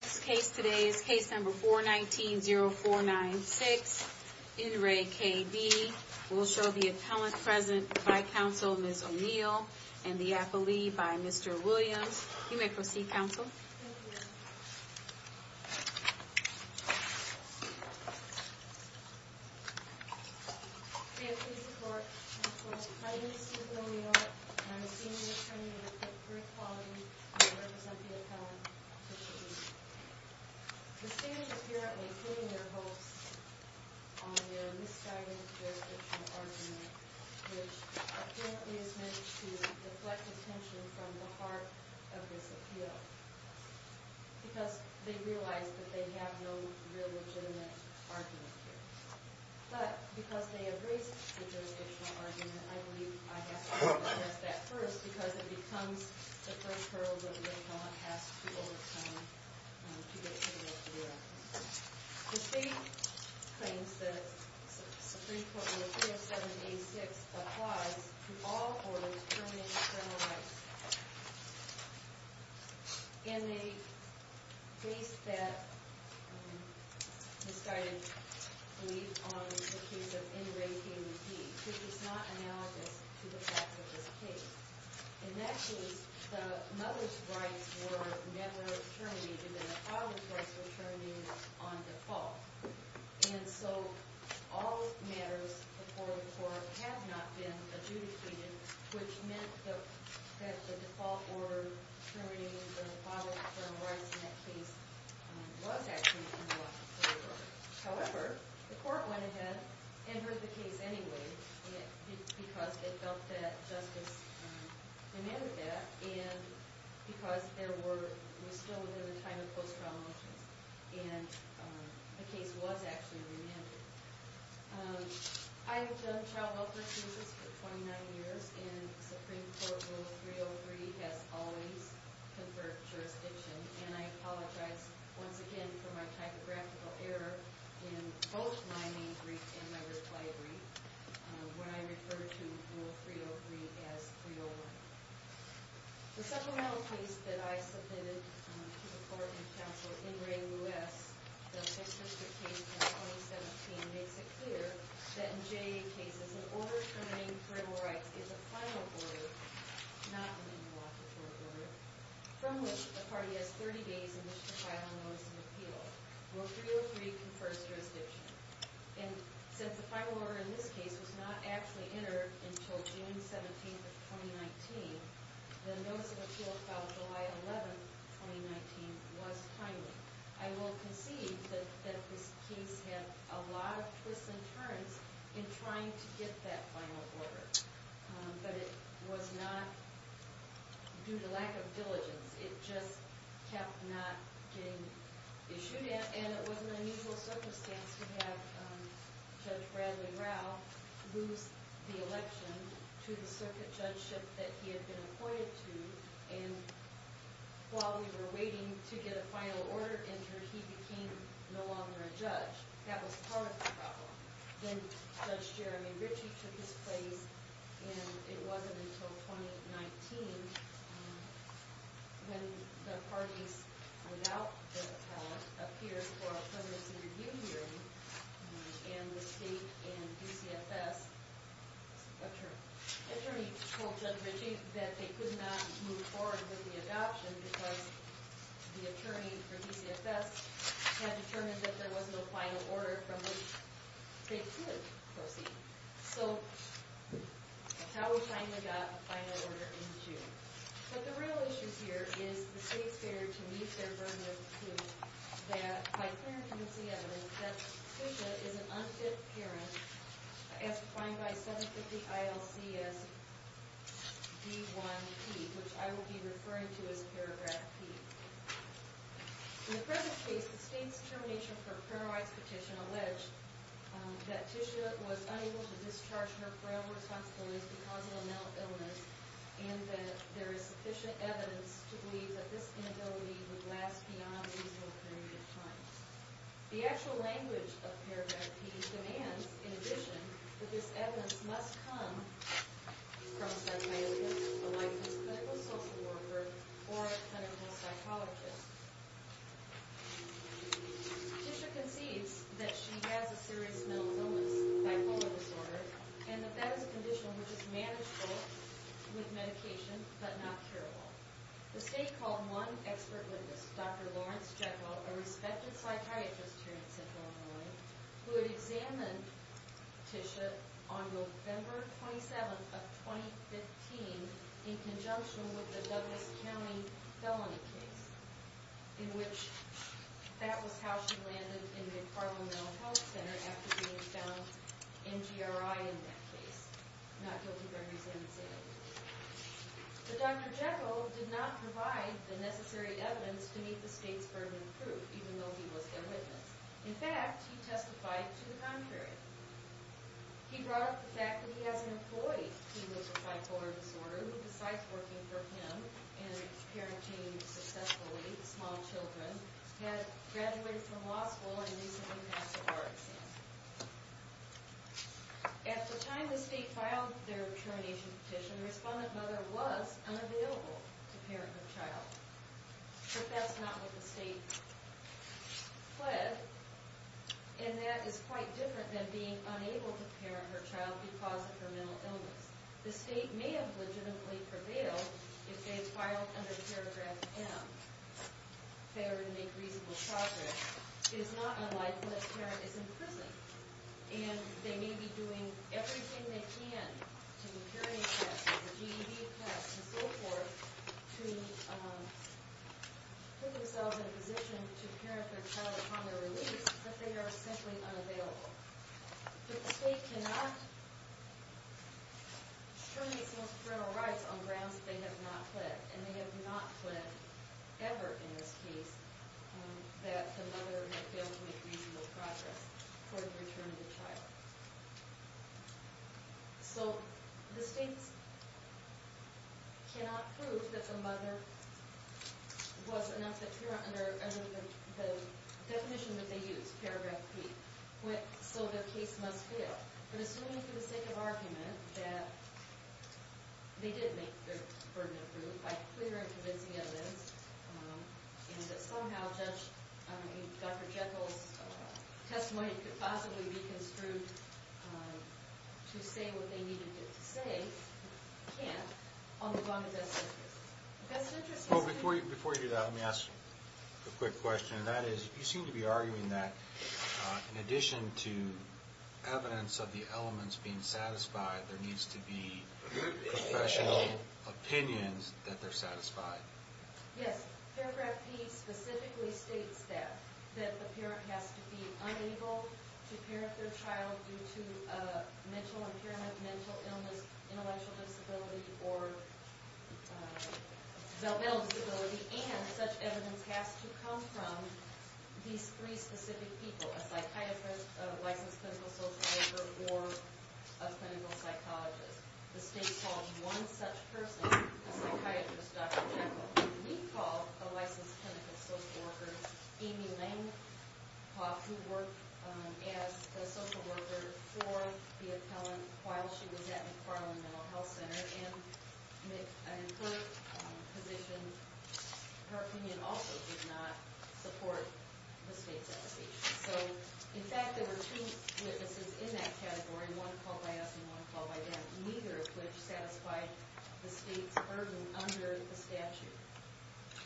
This case today is case number 419-0496. In re K.B., we'll show the appellant present by counsel, Ms. O'Neill, and the appellee by Mr. Williams. You may proceed, counsel. Thank you, Your Honor. May it please the Court, I'm Court Judge Heidi C. O'Neill, and I'm a senior attorney with Pitt Court Quality, and I represent the appellant, Mr. Williams. The stand apparently putting their hopes on their misguided jurisdictional argument, which apparently is meant to deflect attention from the heart of this appeal, because they realize that they have no real legitimate argument here. But, because they have raised the jurisdictional argument, I believe I have to address that first, because it becomes the first hurdle that the appellant has to overcome to get to the real deal. The State claims that Supreme Court Rule 570-A-6 applies to all orders permitting external rights. In a case that misguided belief on the case of N. Ray K.B., which is not analogous to the facts of this case. In that case, the mother's rights were never terminated, and the father's rights were terminated on default. And so, all matters before the court have not been adjudicated, which meant that the default order terminating the father's rights in that case was actually in the law. However, the court went ahead and heard the case anyway, because it felt that justice demanded that, and because it was still within the time of post-trial motions, and the case was actually remanded. I have done child welfare cases for 29 years, and Supreme Court Rule 303 has always conferred jurisdiction, and I apologize once again for my typographical error in both my main brief and my reply brief, when I referred to Rule 303 as 301. The supplemental case that I submitted to the Court and Counsel, N. Ray Lewis, the 6th District case in 2017, makes it clear that in J.A. cases, an order terminating parental rights is a final order, not an interlocutory order, from which the party has 30 days in which to file a notice of appeal, where 303 confers jurisdiction. And since the final order in this case was not actually entered until June 17, 2019, the notice of appeal filed July 11, 2019, was timely. I will concede that this case had a lot of twists and turns in trying to get that final order, but it was not due to lack of diligence. It just kept not getting issued, and it was an unusual circumstance to have Judge Bradley Rao lose the election to the circuit judgeship that he had been appointed to, and while we were waiting to get a final order entered, he became no longer a judge. That was part of the problem. Then Judge Jeremy Ritchie took his place, and it wasn't until 2019 when the parties without the power appeared for a presidency review hearing, and the state and DCFS attorney told Judge Ritchie that they could not move forward with the adoption because the attorney for DCFS had determined that there was no final order. So how we finally got the final order in June. But the real issue here is the state's failure to meet their burden of proof that, by clarifying the evidence, Judge Fischer is an unfit parent, as defined by 750 ILC as D1P, which I will be referring to as paragraph P. In the present case, the state's determination for a parental rights petition alleged that Tisha was unable to discharge her parental responsibilities because of a mental illness and that there is sufficient evidence to believe that this inability would last beyond a reasonable period of time. The actual language of paragraph P demands, in addition, that this evidence must come from a psychiatrist, a licensed clinical social worker, or a clinical psychologist. Tisha concedes that she has a serious mental illness, bipolar disorder, and that that is a condition which is manageable with medication but not curable. The state called one expert witness, Dr. Lawrence Jekyll, a respected psychiatrist here at Central Illinois, who had examined Tisha on November 27th of 2015 in conjunction with the Douglas County felony case, in which that was how she landed in the Carmel Mental Health Center after being found MGRI in that case, not guilty by residency. But Dr. Jekyll did not provide the necessary evidence to meet the state's burden of proof, even though he was their witness. In fact, he testified to the contrary. He brought up the fact that he has an employee who has a bipolar disorder who, besides working for him and parenting successfully small children, had graduated from law school and recently passed a bar exam. At the time the state filed their termination petition, the respondent mother was unavailable to parent her child. But that's not what the state pled, and that is quite different than being unable to parent her child because of her mental illness. The state may have legitimately prevailed if they had filed under paragraph M, Fairer to Make Reasonable Progress. It is not unlikely that a parent is in prison, and they may be doing everything they can to the parenting test, the GED test, and so forth, to put themselves in a position to parent their child upon their release, but they are simply unavailable. But the state cannot terminate parental rights on grounds that they have not pled, and they have not pled ever in this case that the mother had failed to make reasonable progress toward the return of the child. So the state cannot prove that the mother was an unfit parent under the definition that they used, paragraph 3, so the case must fail. But assuming for the sake of argument that they did make their burden of proof by clear and convincing evidence, and that somehow Dr. Jekyll's testimony could possibly be construed to say what they needed it to say, they can't, as long as that's their decision. Well, before you do that, let me ask a quick question, and that is, you seem to be arguing that in addition to evidence of the elements being satisfied, there needs to be professional opinions that they're satisfied. Yes, paragraph P specifically states that, that the parent has to be unable to parent their child due to mental impairment, mental illness, intellectual disability, or developmental disability, and such evidence has to come from these three specific people, a psychiatrist, a licensed clinical social worker, or a clinical psychologist. The state calls one such person a psychiatrist, Dr. Jekyll, and we call a licensed clinical social worker Amy Langhoff, who worked as a social worker for the appellant while she was at McFarland Mental Health Center, and in her position, her opinion also did not support the state's evaluation. So, in fact, there were two witnesses in that category, one called by us and one called by them, neither of which satisfied the state's burden under the statute.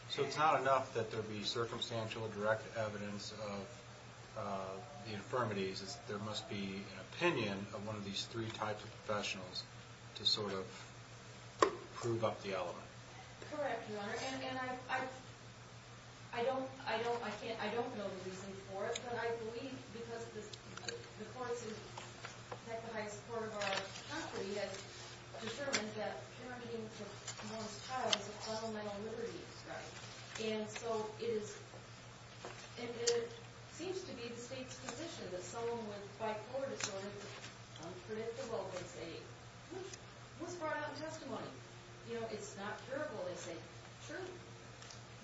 So it's not enough that there be circumstantial direct evidence of the infirmities, there must be an opinion of one of these three types of professionals to sort of prove up the element. Correct, Your Honor, and I don't know the reason for it, but I believe because the courts have the highest support of our property, it's determined that parenting for one's child is a fundamental liberty. And so it seems to be the state's position that someone with bipolar disorder, unpredictable, they say, was brought out in testimony. You know, it's not curable, they say. Sure.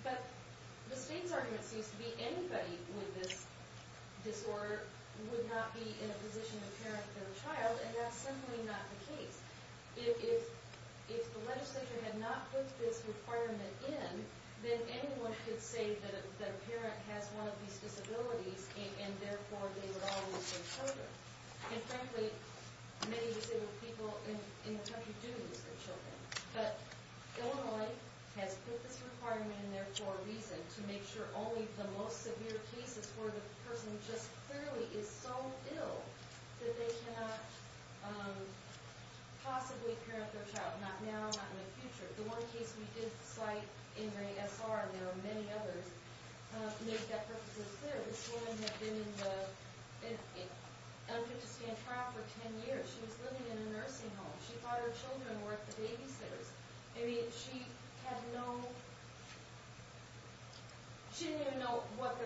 But the state's argument seems to be anybody with this disorder would not be in a position to parent their child, and that's simply not the case. If the legislature had not put this requirement in, then anyone could say that a parent has one of these disabilities and therefore they would always lose their children. And frankly, many disabled people in the country do lose their children. But Illinois has put this requirement in there for a reason, to make sure only the most severe cases where the person just clearly is so ill that they cannot possibly parent their child, not now, not in the future. The one case we did cite, Ingray S.R., and there are many others, make that purpose as clear. This woman had been in an unfit to stand trial for 10 years. She was living in a nursing home. She thought her children were the babysitters. I mean, she had no – she didn't even know what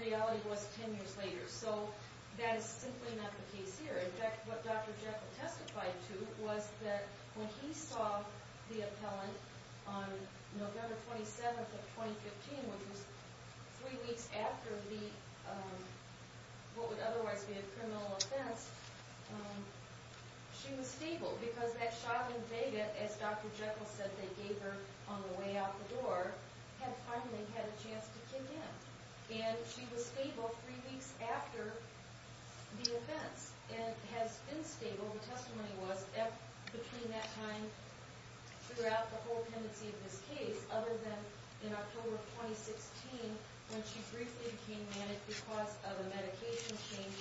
reality was 10 years later. So that is simply not the case here. In fact, what Dr. Jekyll testified to was that when he saw the appellant on November 27th of 2015, which was three weeks after the – what would otherwise be a criminal offense, she was stable. Because that shot in Vega, as Dr. Jekyll said they gave her on the way out the door, had finally had a chance to kick in. And she was stable three weeks after the offense and has been stable, the testimony was, between that time throughout the whole pendency of this case, other than in October of 2016 when she briefly became manic because of a medication change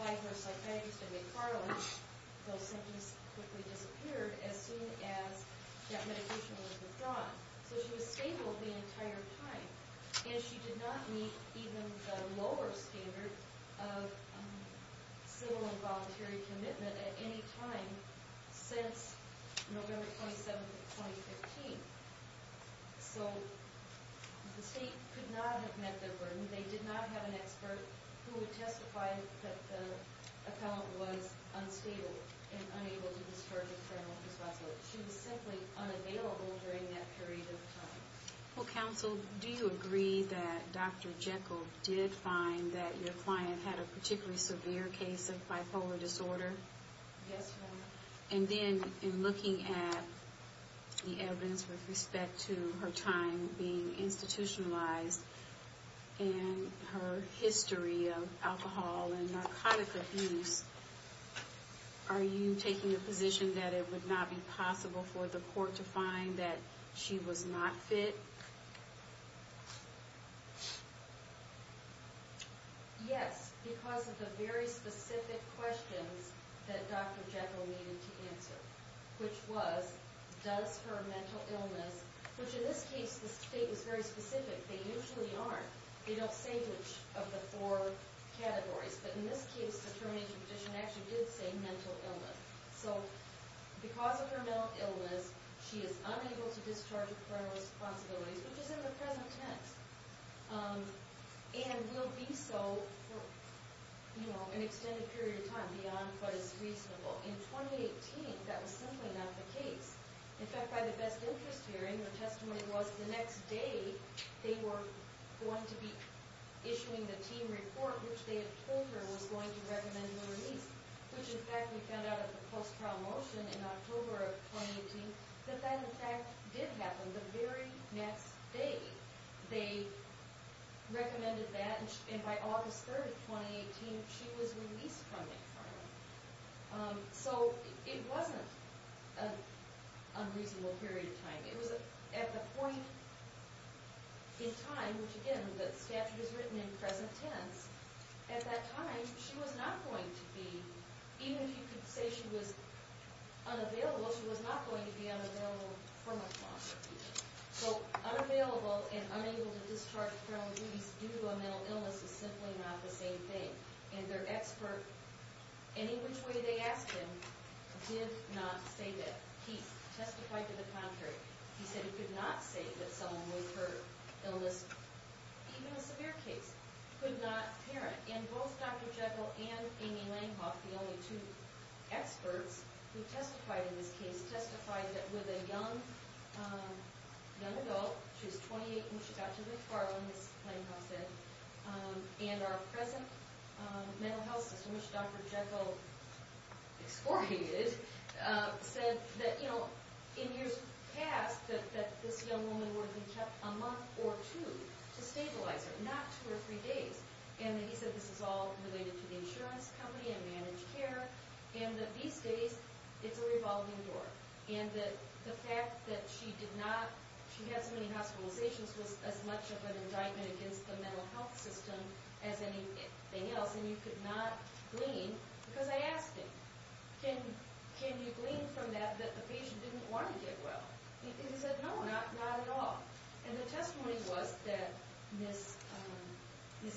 by her psychiatrist in McFarland. Those symptoms quickly disappeared as soon as that medication was withdrawn. So she was stable the entire time. And she did not meet even the lower standard of civil and voluntary commitment at any time since November 27th of 2015. So the state could not have met their burden. They did not have an expert who would testify that the appellant was unstable and unable to discharge a criminal responsibility. She was simply unavailable during that period of time. Well, counsel, do you agree that Dr. Jekyll did find that your client had a particularly severe case of bipolar disorder? Yes, ma'am. And then, in looking at the evidence with respect to her time being institutionalized and her history of alcohol and narcotic abuse, are you taking a position that it would not be possible for the court to find that she was not fit? Yes, because of the very specific questions that Dr. Jekyll needed to answer, which was, does her mental illness, which in this case the state was very specific. They usually aren't. They don't say which of the four categories. But in this case, the termination petition actually did say mental illness. So because of her mental illness, she is unable to discharge criminal responsibilities, which is in the present tense, and will be so for an extended period of time beyond what is reasonable. In 2018, that was simply not the case. In fact, by the best interest hearing, the testimony was the next day they were going to be issuing the team report, which they had told her was going to recommend her release. Which, in fact, we found out at the post-trial motion in October of 2018 that that, in fact, did happen the very next day. They recommended that, and by August 3, 2018, she was released from the environment. So it wasn't an unreasonable period of time. It was at the point in time, which again, the statute is written in present tense. At that time, she was not going to be, even if you could say she was unavailable, she was not going to be unavailable from a foster. So unavailable and unable to discharge criminal duties due to a mental illness is simply not the same thing. And their expert, any which way they asked him, did not say that. He testified to the contrary. He said he could not say that someone with her illness, even a severe case, could not parent. And both Dr. Jekyll and Amy Langhoff, the only two experts who testified in this case, testified that with a young adult, she was 28 when she got to the car when Ms. Langhoff said, and our present mental health system, which Dr. Jekyll excoriated, said that, you know, in years past, that this young woman would have been kept a month or two to stabilize her, not two or three days. And he said this is all related to the insurance company and managed care, and that these days, it's a revolving door. And the fact that she did not, she had so many hospitalizations was as much of an indictment against the mental health system as anything else. And you could not glean, because I asked him, can you glean from that that the patient didn't want to get well? And he said, no, not at all. And the testimony was that Ms.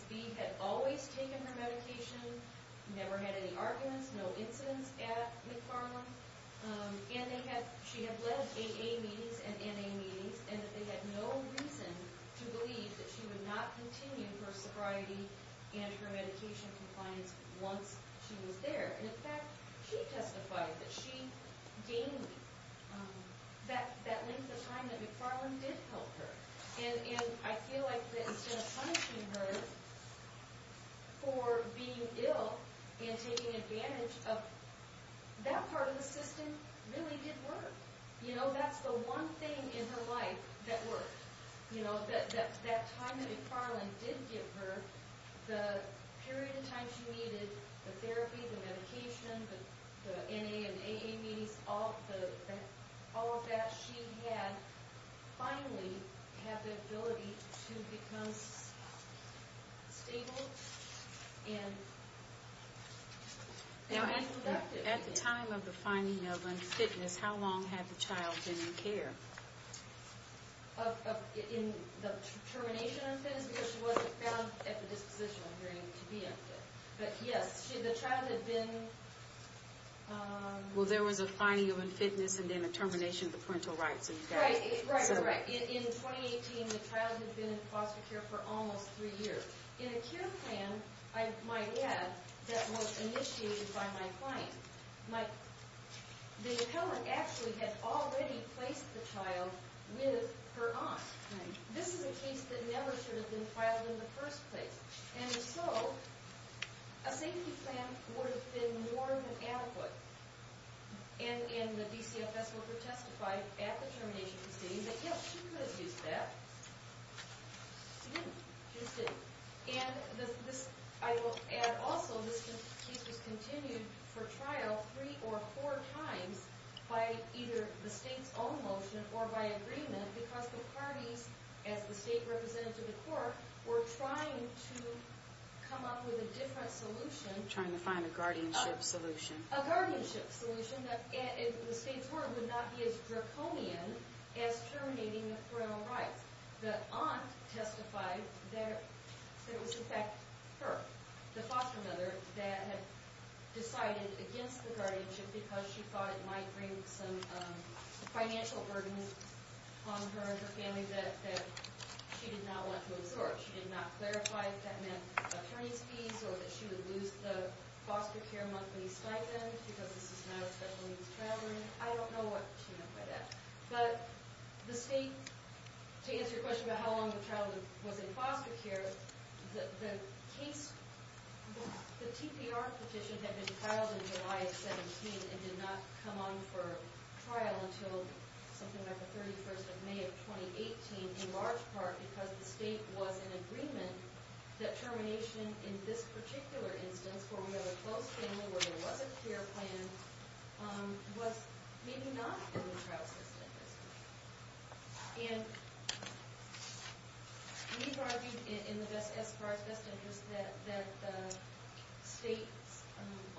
B had always taken her medication, never had any arguments, no incidents at McFarland. And she had led AA meetings and NA meetings, and that they had no reason to believe that she would not continue her sobriety and her medication compliance once she was there. And in fact, she testified that she gained that length of time that McFarland did help her. And I feel like that instead of punishing her for being ill and taking advantage of that part of the system really did work. You know, that's the one thing in her life that worked. You know, that time that McFarland did give her, the period of time she needed the therapy, the medication, the NA and AA meetings, all of that she had finally had the ability to become stable and productive. At the time of the finding of unfitness, how long had the child been in care? In the termination of unfitness, because she wasn't found at the disposition of being unfit. But yes, the child had been... Well, there was a finding of unfitness and then a termination of the parental rights. Right, right, right. In 2018, the child had been in foster care for almost three years. In a care plan, I might add, that was initiated by my client, the appellant actually had already placed the child with her aunt. This is a case that never should have been filed in the first place. And so, a safety plan would have been more than adequate. And the DCFS would have testified at the termination proceedings that yes, she could have used that. She didn't. She just didn't. And I will add also, this case was continued for trial three or four times by either the state's own motion or by agreement because the parties, as the state representative in court, were trying to come up with a different solution. Trying to find a guardianship solution. A guardianship solution that the state's word would not be as draconian as terminating the parental rights. The aunt testified that it was in fact her, the foster mother, that had decided against the guardianship because she thought it might bring some financial burden on her and her family that she did not want to absorb. She did not clarify if that meant attorney's fees or that she would lose the foster care monthly stipend because this is not a special needs child. I don't know what she meant by that. But the state, to answer your question about how long the child was in foster care, the case, the TPR petition had been filed in July of 17 and did not come on for trial until something like the 31st of May of 2018 in large part because the state was in agreement that termination in this particular instance, where we have a closed family, where there was a care plan, was maybe not in the trial system. And we argued in the best, as far as best interest, that the state's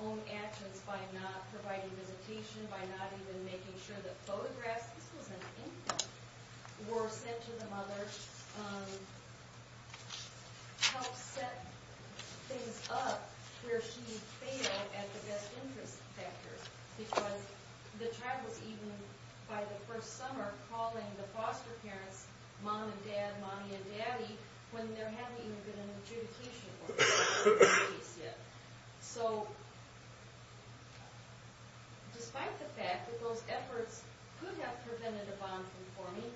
own actions by not providing visitation, by not even making sure that photographs, this was an infant, were sent to the mother, helped set things up where she failed at the best interest factor because the child was even, by the first summer, calling the foster parents mom and dad, mommy and daddy, when there hadn't even been an adjudication for the case yet. So, despite the fact that those efforts could have prevented a bond from forming,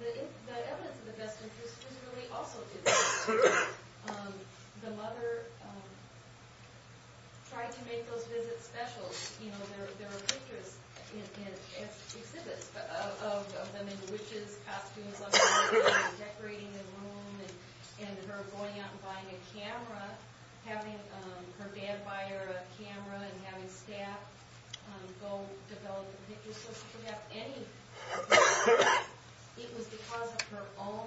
the evidence of the best interest was really also in the best interest. The mother tried to make those visits special. You know, there were pictures and exhibits of them in witches' costumes, decorating the room, and her going out and buying a camera, having her dad buy her a camera and having staff go develop the pictures. It was because of her own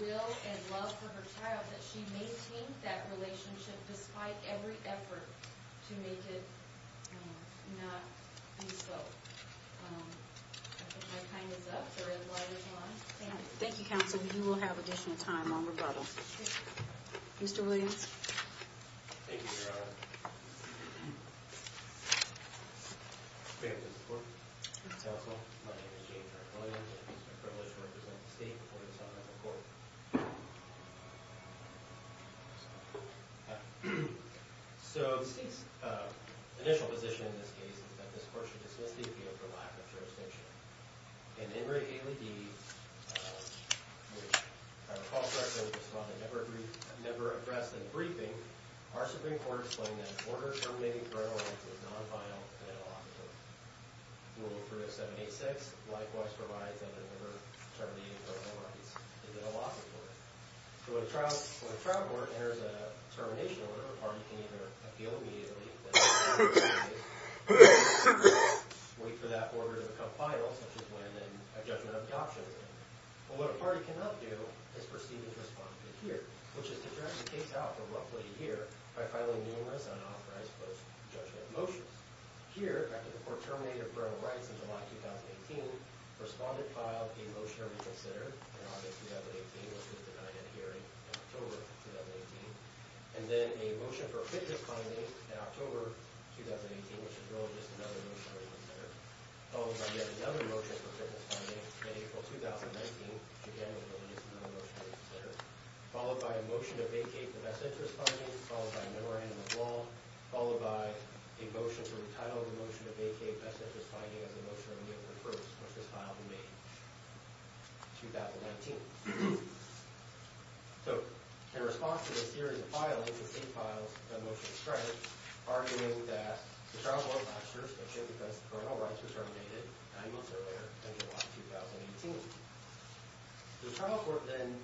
will and love for her child that she maintained that relationship, despite every effort to make it not be so. I think my time is up. Thank you, counsel. You will have additional time on rebuttal. Mr. Williams? Thank you, Your Honor. Thank you for your support, counsel. My name is James R. Williams, and it is my privilege to represent the state before you this afternoon in court. So, the state's initial position in this case is that this court should dismiss the appeal for lack of jurisdiction. And in Ray Haley D., which, if I recall correctly, was found to never address the briefing, our Supreme Court explained that an order terminating parental rights is non-final and illogical. Rule 3 of 786 likewise provides that an order terminating parental rights is illogical. So when a trial court enters a termination order, a party can either appeal immediately, wait for that order to become final, such as when a judgment of the option is made, but what a party cannot do is proceed as respondent here, which is to draft a case out for roughly a year by filing numerous unauthorized post-judgment motions. Here, after the court terminated parental rights in July 2018, a respondent filed a motion to reconsider in August 2018, which was denied at hearing in October 2018, and then a motion for a fitness finding in October 2018, which is really just another motion to reconsider, followed by yet another motion for fitness finding in April 2019, which, again, was really just another motion to reconsider, followed by a motion to vacate the best interest finding, followed by a memorandum of law, followed by a motion to retitle the motion to vacate best interest finding as a motion of a year for the first, which was filed in May 2019. So, in response to this series of filings, the state files a motion to strike, arguing that the trial court muster, especially because parental rights were terminated nine months earlier than July 2018. The trial court then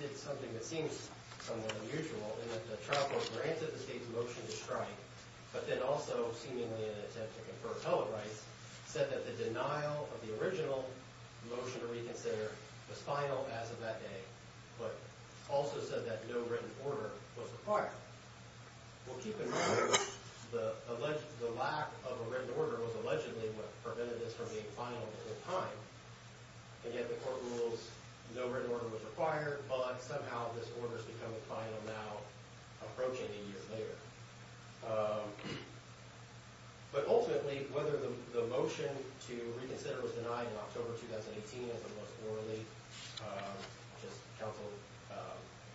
did something that seems somewhat unusual, in that the trial court granted the state's motion to strike, but then also, seemingly in an attempt to confer appellate rights, said that the denial of the original motion to reconsider was final as of that day, but also said that no written order was required. Well, keep in mind, the lack of a written order was allegedly what prevented this from being final at the time, and yet the court rules no written order was required, but somehow this order's become final now, approaching a year later. But ultimately, whether the motion to reconsider was denied in October 2018 as it was orally just counsel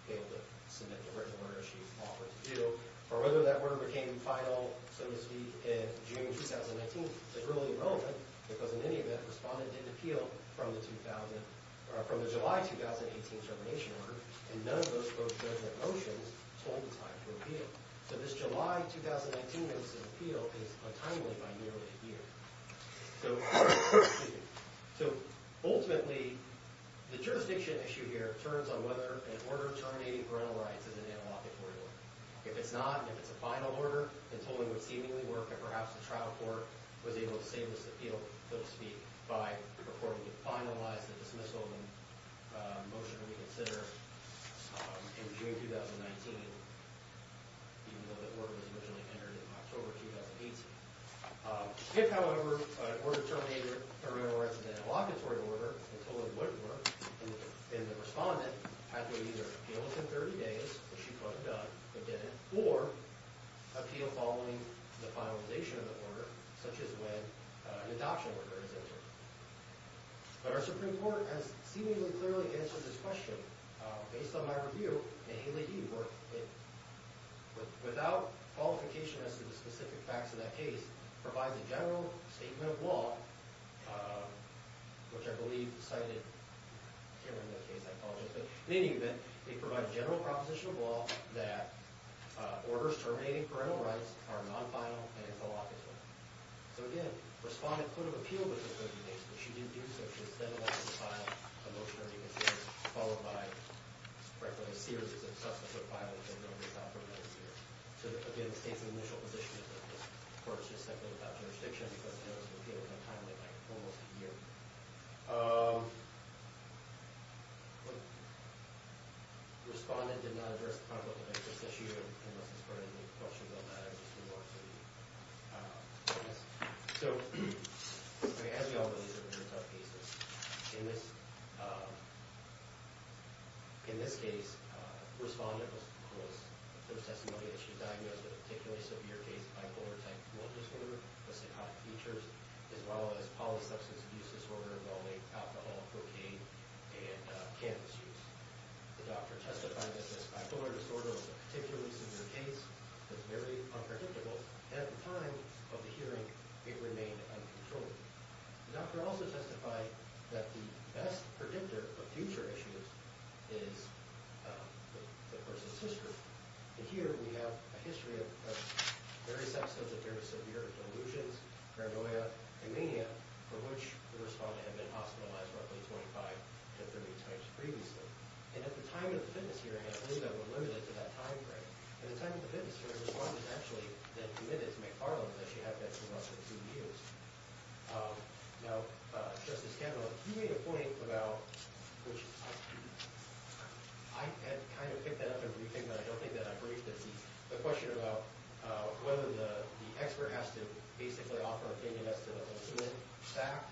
failed to submit the written order she offered to do, or whether that order became final, so to speak, in June 2019 is really irrelevant, because in any event, the respondent did appeal from the July 2018 termination order, and none of those folks' motions told the time to appeal. So this July 2019 notice of appeal is timely by nearly a year. So ultimately, the jurisdiction issue here turns on whether an order terminating parental rights is an analogic order. If it's not, if it's a final order, then totally it would seemingly work, and perhaps the trial court was able to save this appeal, so to speak, by purporting to finalize the dismissal motion to reconsider in June 2019, even though that order was originally entered in October 2018. If, however, an order terminating parental rights is an allocatory order, it totally wouldn't work, and the respondent had to either appeal within 30 days, which she could have done, but didn't, or appeal following the finalization of the order, such as when an adoption order is entered. But our Supreme Court has seemingly clearly answered this question, based on my review, and Haley E. worked it. Without qualification as to the specific facts of that case, provides a general statement of law, which I believe cited here in the case. I apologize, but in any event, they provide a general proposition of law that orders terminating parental rights are non-final and it's an allocatory. So again, respondent could have appealed within 30 days, but she didn't do so. ...followed by, frankly, a series of substantive violations. So again, the state's initial position is that this court is just simply without jurisdiction because the appeal took time, like almost a year. Respondent did not address the conflict of interest issue, unless it's for any questions on that, I'm just remorseful to ask. So, as we all know, these are very tough cases. In this case, respondent was... there was testimony that she was diagnosed with a particularly severe case of bipolar type 1 disorder, the psychotic features, as well as polysubstance abuse disorder, well-made alcohol, cocaine, and cannabis use. The doctor testified that this bipolar disorder was a particularly severe case, was very unpredictable, and at the time of the hearing, it remained uncontrolled. The doctor also testified that the best predictor of future issues is the person's history. And here we have a history of various episodes of severe delusions, paranoia, and mania for which the respondent had been hospitalized roughly 25 to 30 times previously. And at the time of the fitness hearing, I believe I'm limited to that time frame. At the time of the fitness hearing, the respondent had actually been committed to McFarland as she had been for roughly two years. Now, Justice Kavanaugh, you made a point about which... I kind of picked that up in the briefing, but I don't think that I briefed it. The question about whether the expert has to basically offer an opinion as to the ultimate fact,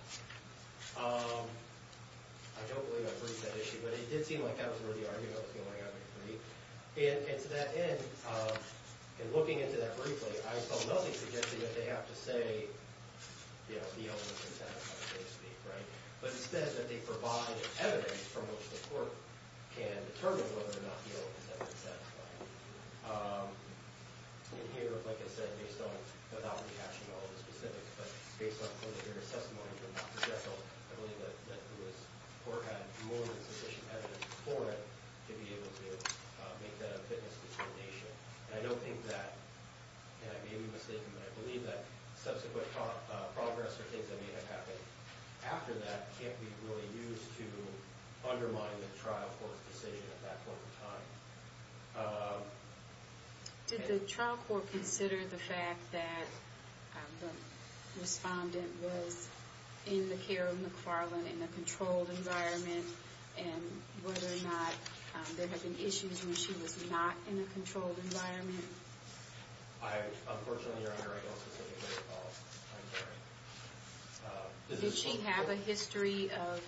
I don't believe I briefed that issue, but it did seem like that was where the argument was going to end up for me. And to that end, in looking into that briefly, I saw nothing suggesting that they have to say, you know, the ultimate fact, so to speak, right? But it says that they provide evidence from which the court can determine whether or not the ultimate fact is satisfied. And here, like I said, based on, without reaction to all of the specifics, but based on preliminary testimony from Dr. Jekyll, I believe that this court had more than sufficient evidence for it to be able to make that a fitness determination. And I don't think that, and I may be mistaken, but I believe that subsequent progress or things that may have happened after that can't be really used to undermine the trial court's decision at that point in time. Did the trial court consider the fact that the respondent was in the care of McFarland in a controlled environment and whether or not there had been issues when she was not in a controlled environment? Unfortunately, Your Honor, I don't specifically recall. Did she have a history of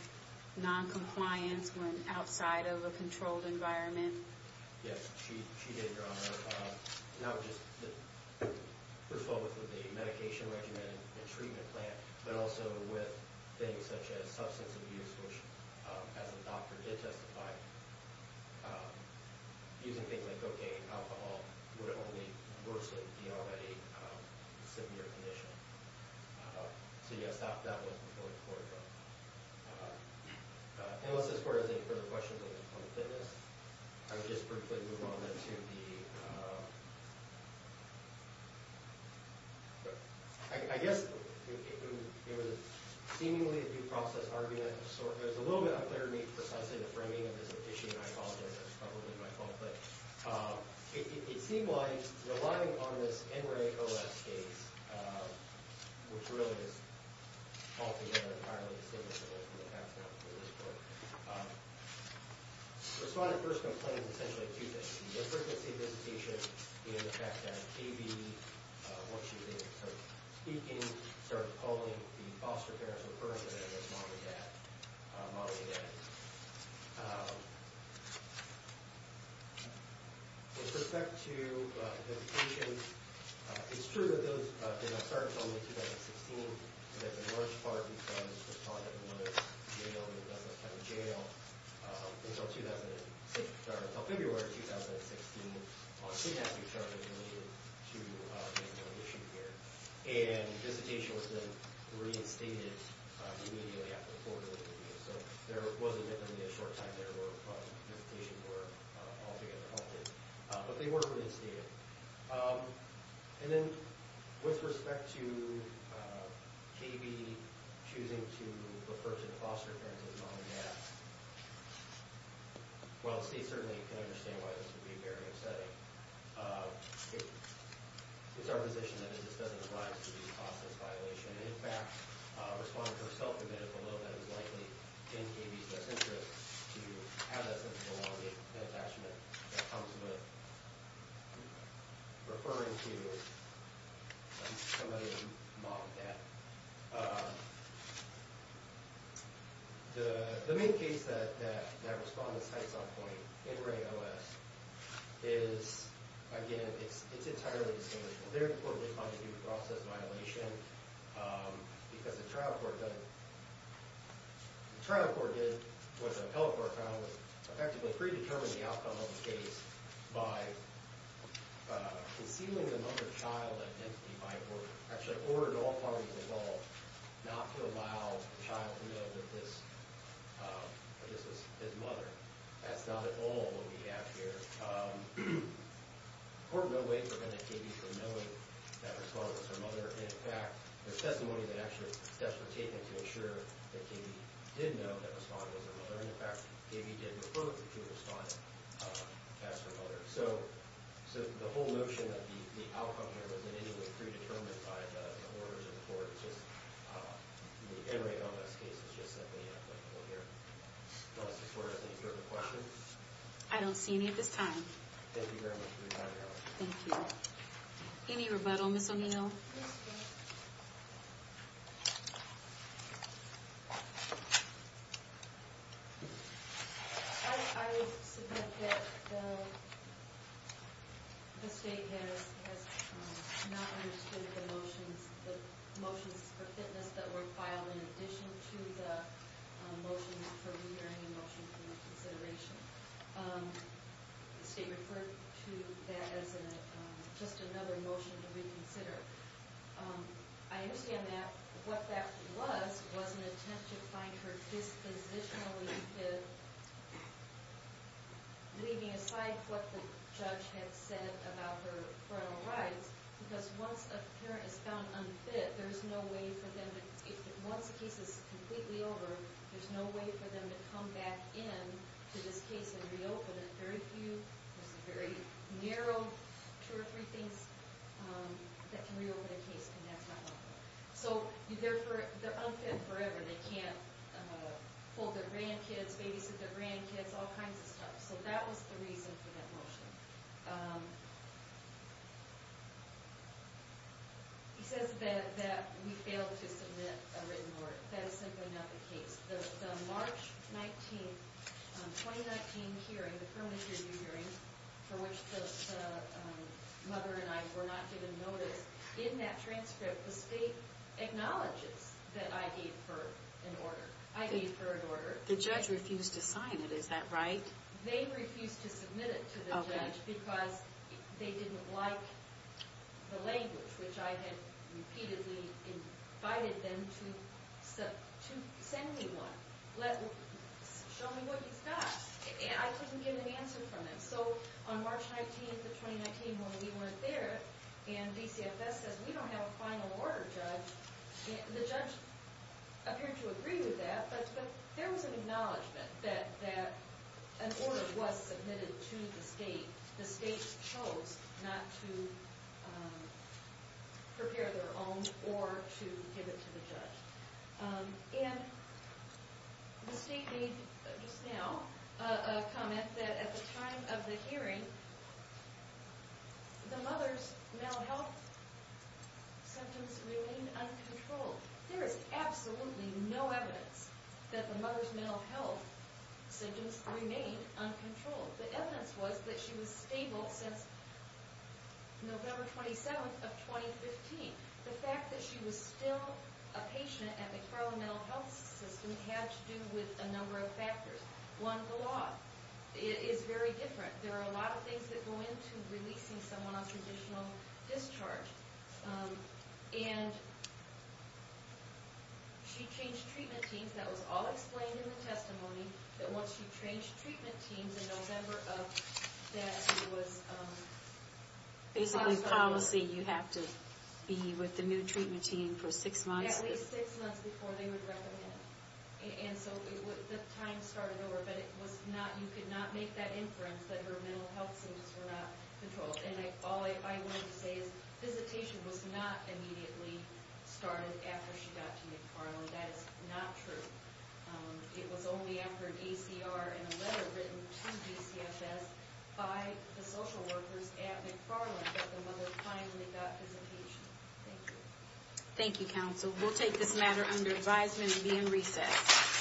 noncompliance when outside of a controlled environment? Yes, she did, Your Honor. Now, just, first of all, with the medication regimen and treatment plan, but also with things such as substance abuse, which as the doctor did testify, using things like cocaine and alcohol would only worsen the already severe condition. So, yes, that was before the trial. Unless this court has any further questions on the fitness, I would just briefly move on then to the... I guess it was seemingly a due process argument. It was a little bit unclear to me precisely the framing of this issue. I apologize. That was probably my fault. But it seemed like, relying on this NREA-OS case, which really is altogether entirely distinguishable from the past ones in this court, the respondent first complained essentially of two things. The frequency of visitation, the fact that KB, once she was able to start speaking, started calling the foster parents of the person that was modeling that. With respect to the visitation, it's true that those did not start until late 2016, and that the large part of these ones were caught in a woman's jail, in a kind of jail, until February of 2016. She had to be charged with delivery to make the whole issue clear. And visitation was then reinstated immediately after the court was reviewed. So there wasn't really a short time there where visitations were altogether halted. But they were reinstated. And then, with respect to KB choosing to refer to the foster parents as modeling that, while the state certainly can understand why this would be very upsetting, it's our position that it just doesn't arise to be a process violation. In fact, a respondent herself admitted below that it was likely in KB's best interest to have that something along the attachment that comes with referring to somebody who modeled that. The main case that respondent cites on point in RAIN-OS is, again, it's entirely distinguishable. Very importantly, it's not a due process violation, because the trial court did what the appellate court found was effectively predetermine the outcome of the case by concealing the mother-child identity by the court. Actually, the court in all parties involved not to allow the child to know that this is his mother. That's not at all what we have here. The court in no way prevented KB from knowing that respondent was her mother. In fact, there's testimony that actually steps were taken to ensure that KB did know that respondent was her mother. In fact, KB did report that she was responding as her mother. So the whole notion that the outcome here was in any way predetermined by the orders of the court, it's just the RAIN-OS case is just something that we have to look over here. Justice Brewer, any further questions? I don't see any at this time. Thank you very much for your time, Your Honor. Thank you. Any rebuttal, Ms. O'Neill? Yes, Your Honor. I would submit that the state has not understood the motions for fitness that were filed in addition to the motions for re-hearing and motions for reconsideration. The state referred to that as just another motion to reconsider. I understand that what that was was an attempt to find her dispositionally fit, leaving aside what the judge had said about her parental rights, because once a parent is found unfit, there's no way for them to, once the case is completely over, there's no way for them to come back in to this case and reopen it. Very few, very narrow, two or three things that can reopen a case, and that's not helpful. So they're unfit forever. They can't hold their grandkids, babysit their grandkids, all kinds of stuff. So that was the reason for that motion. He says that we failed to submit a written word. That is simply not the case. The March 19, 2019 hearing, the permanent review hearing, for which the mother and I were not given notice, in that transcript, the state acknowledges that I gave her an order. I gave her an order. The judge refused to sign it, is that right? They refused to submit it to the judge because they didn't like the language, which I had repeatedly invited them to send me one, show me what you've got. I couldn't get an answer from them. So on March 19, 2019, when we weren't there, and DCFS says we don't have a final order, judge, the judge appeared to agree with that, but there was an acknowledgment that an order was submitted to the state. The state chose not to prepare their own or to give it to the judge. And the state made, just now, a comment that at the time of the hearing, the mother's mental health symptoms remained uncontrolled. There is absolutely no evidence that the mother's mental health symptoms remained uncontrolled. The evidence was that she was stable since November 27 of 2015. The fact that she was still a patient at McFarland Mental Health System had to do with a number of factors. One, the law is very different. There are a lot of things that go into releasing someone on traditional discharge. And she changed treatment teams. That was all explained in the testimony that once she changed treatment teams in November of that, it was basically policy. You have to be with the new treatment team for six months. Yeah, at least six months before they would recommend it. And so the time started over, but you could not make that inference that her mental health symptoms were not controlled. And all I wanted to say is visitation was not immediately started after she got to McFarland. That is not true. It was only after an ACR and a letter written to DCFS by the social workers at McFarland that the mother finally got visitation. Thank you. Thank you, counsel. We'll take this matter under advisement and be in recess.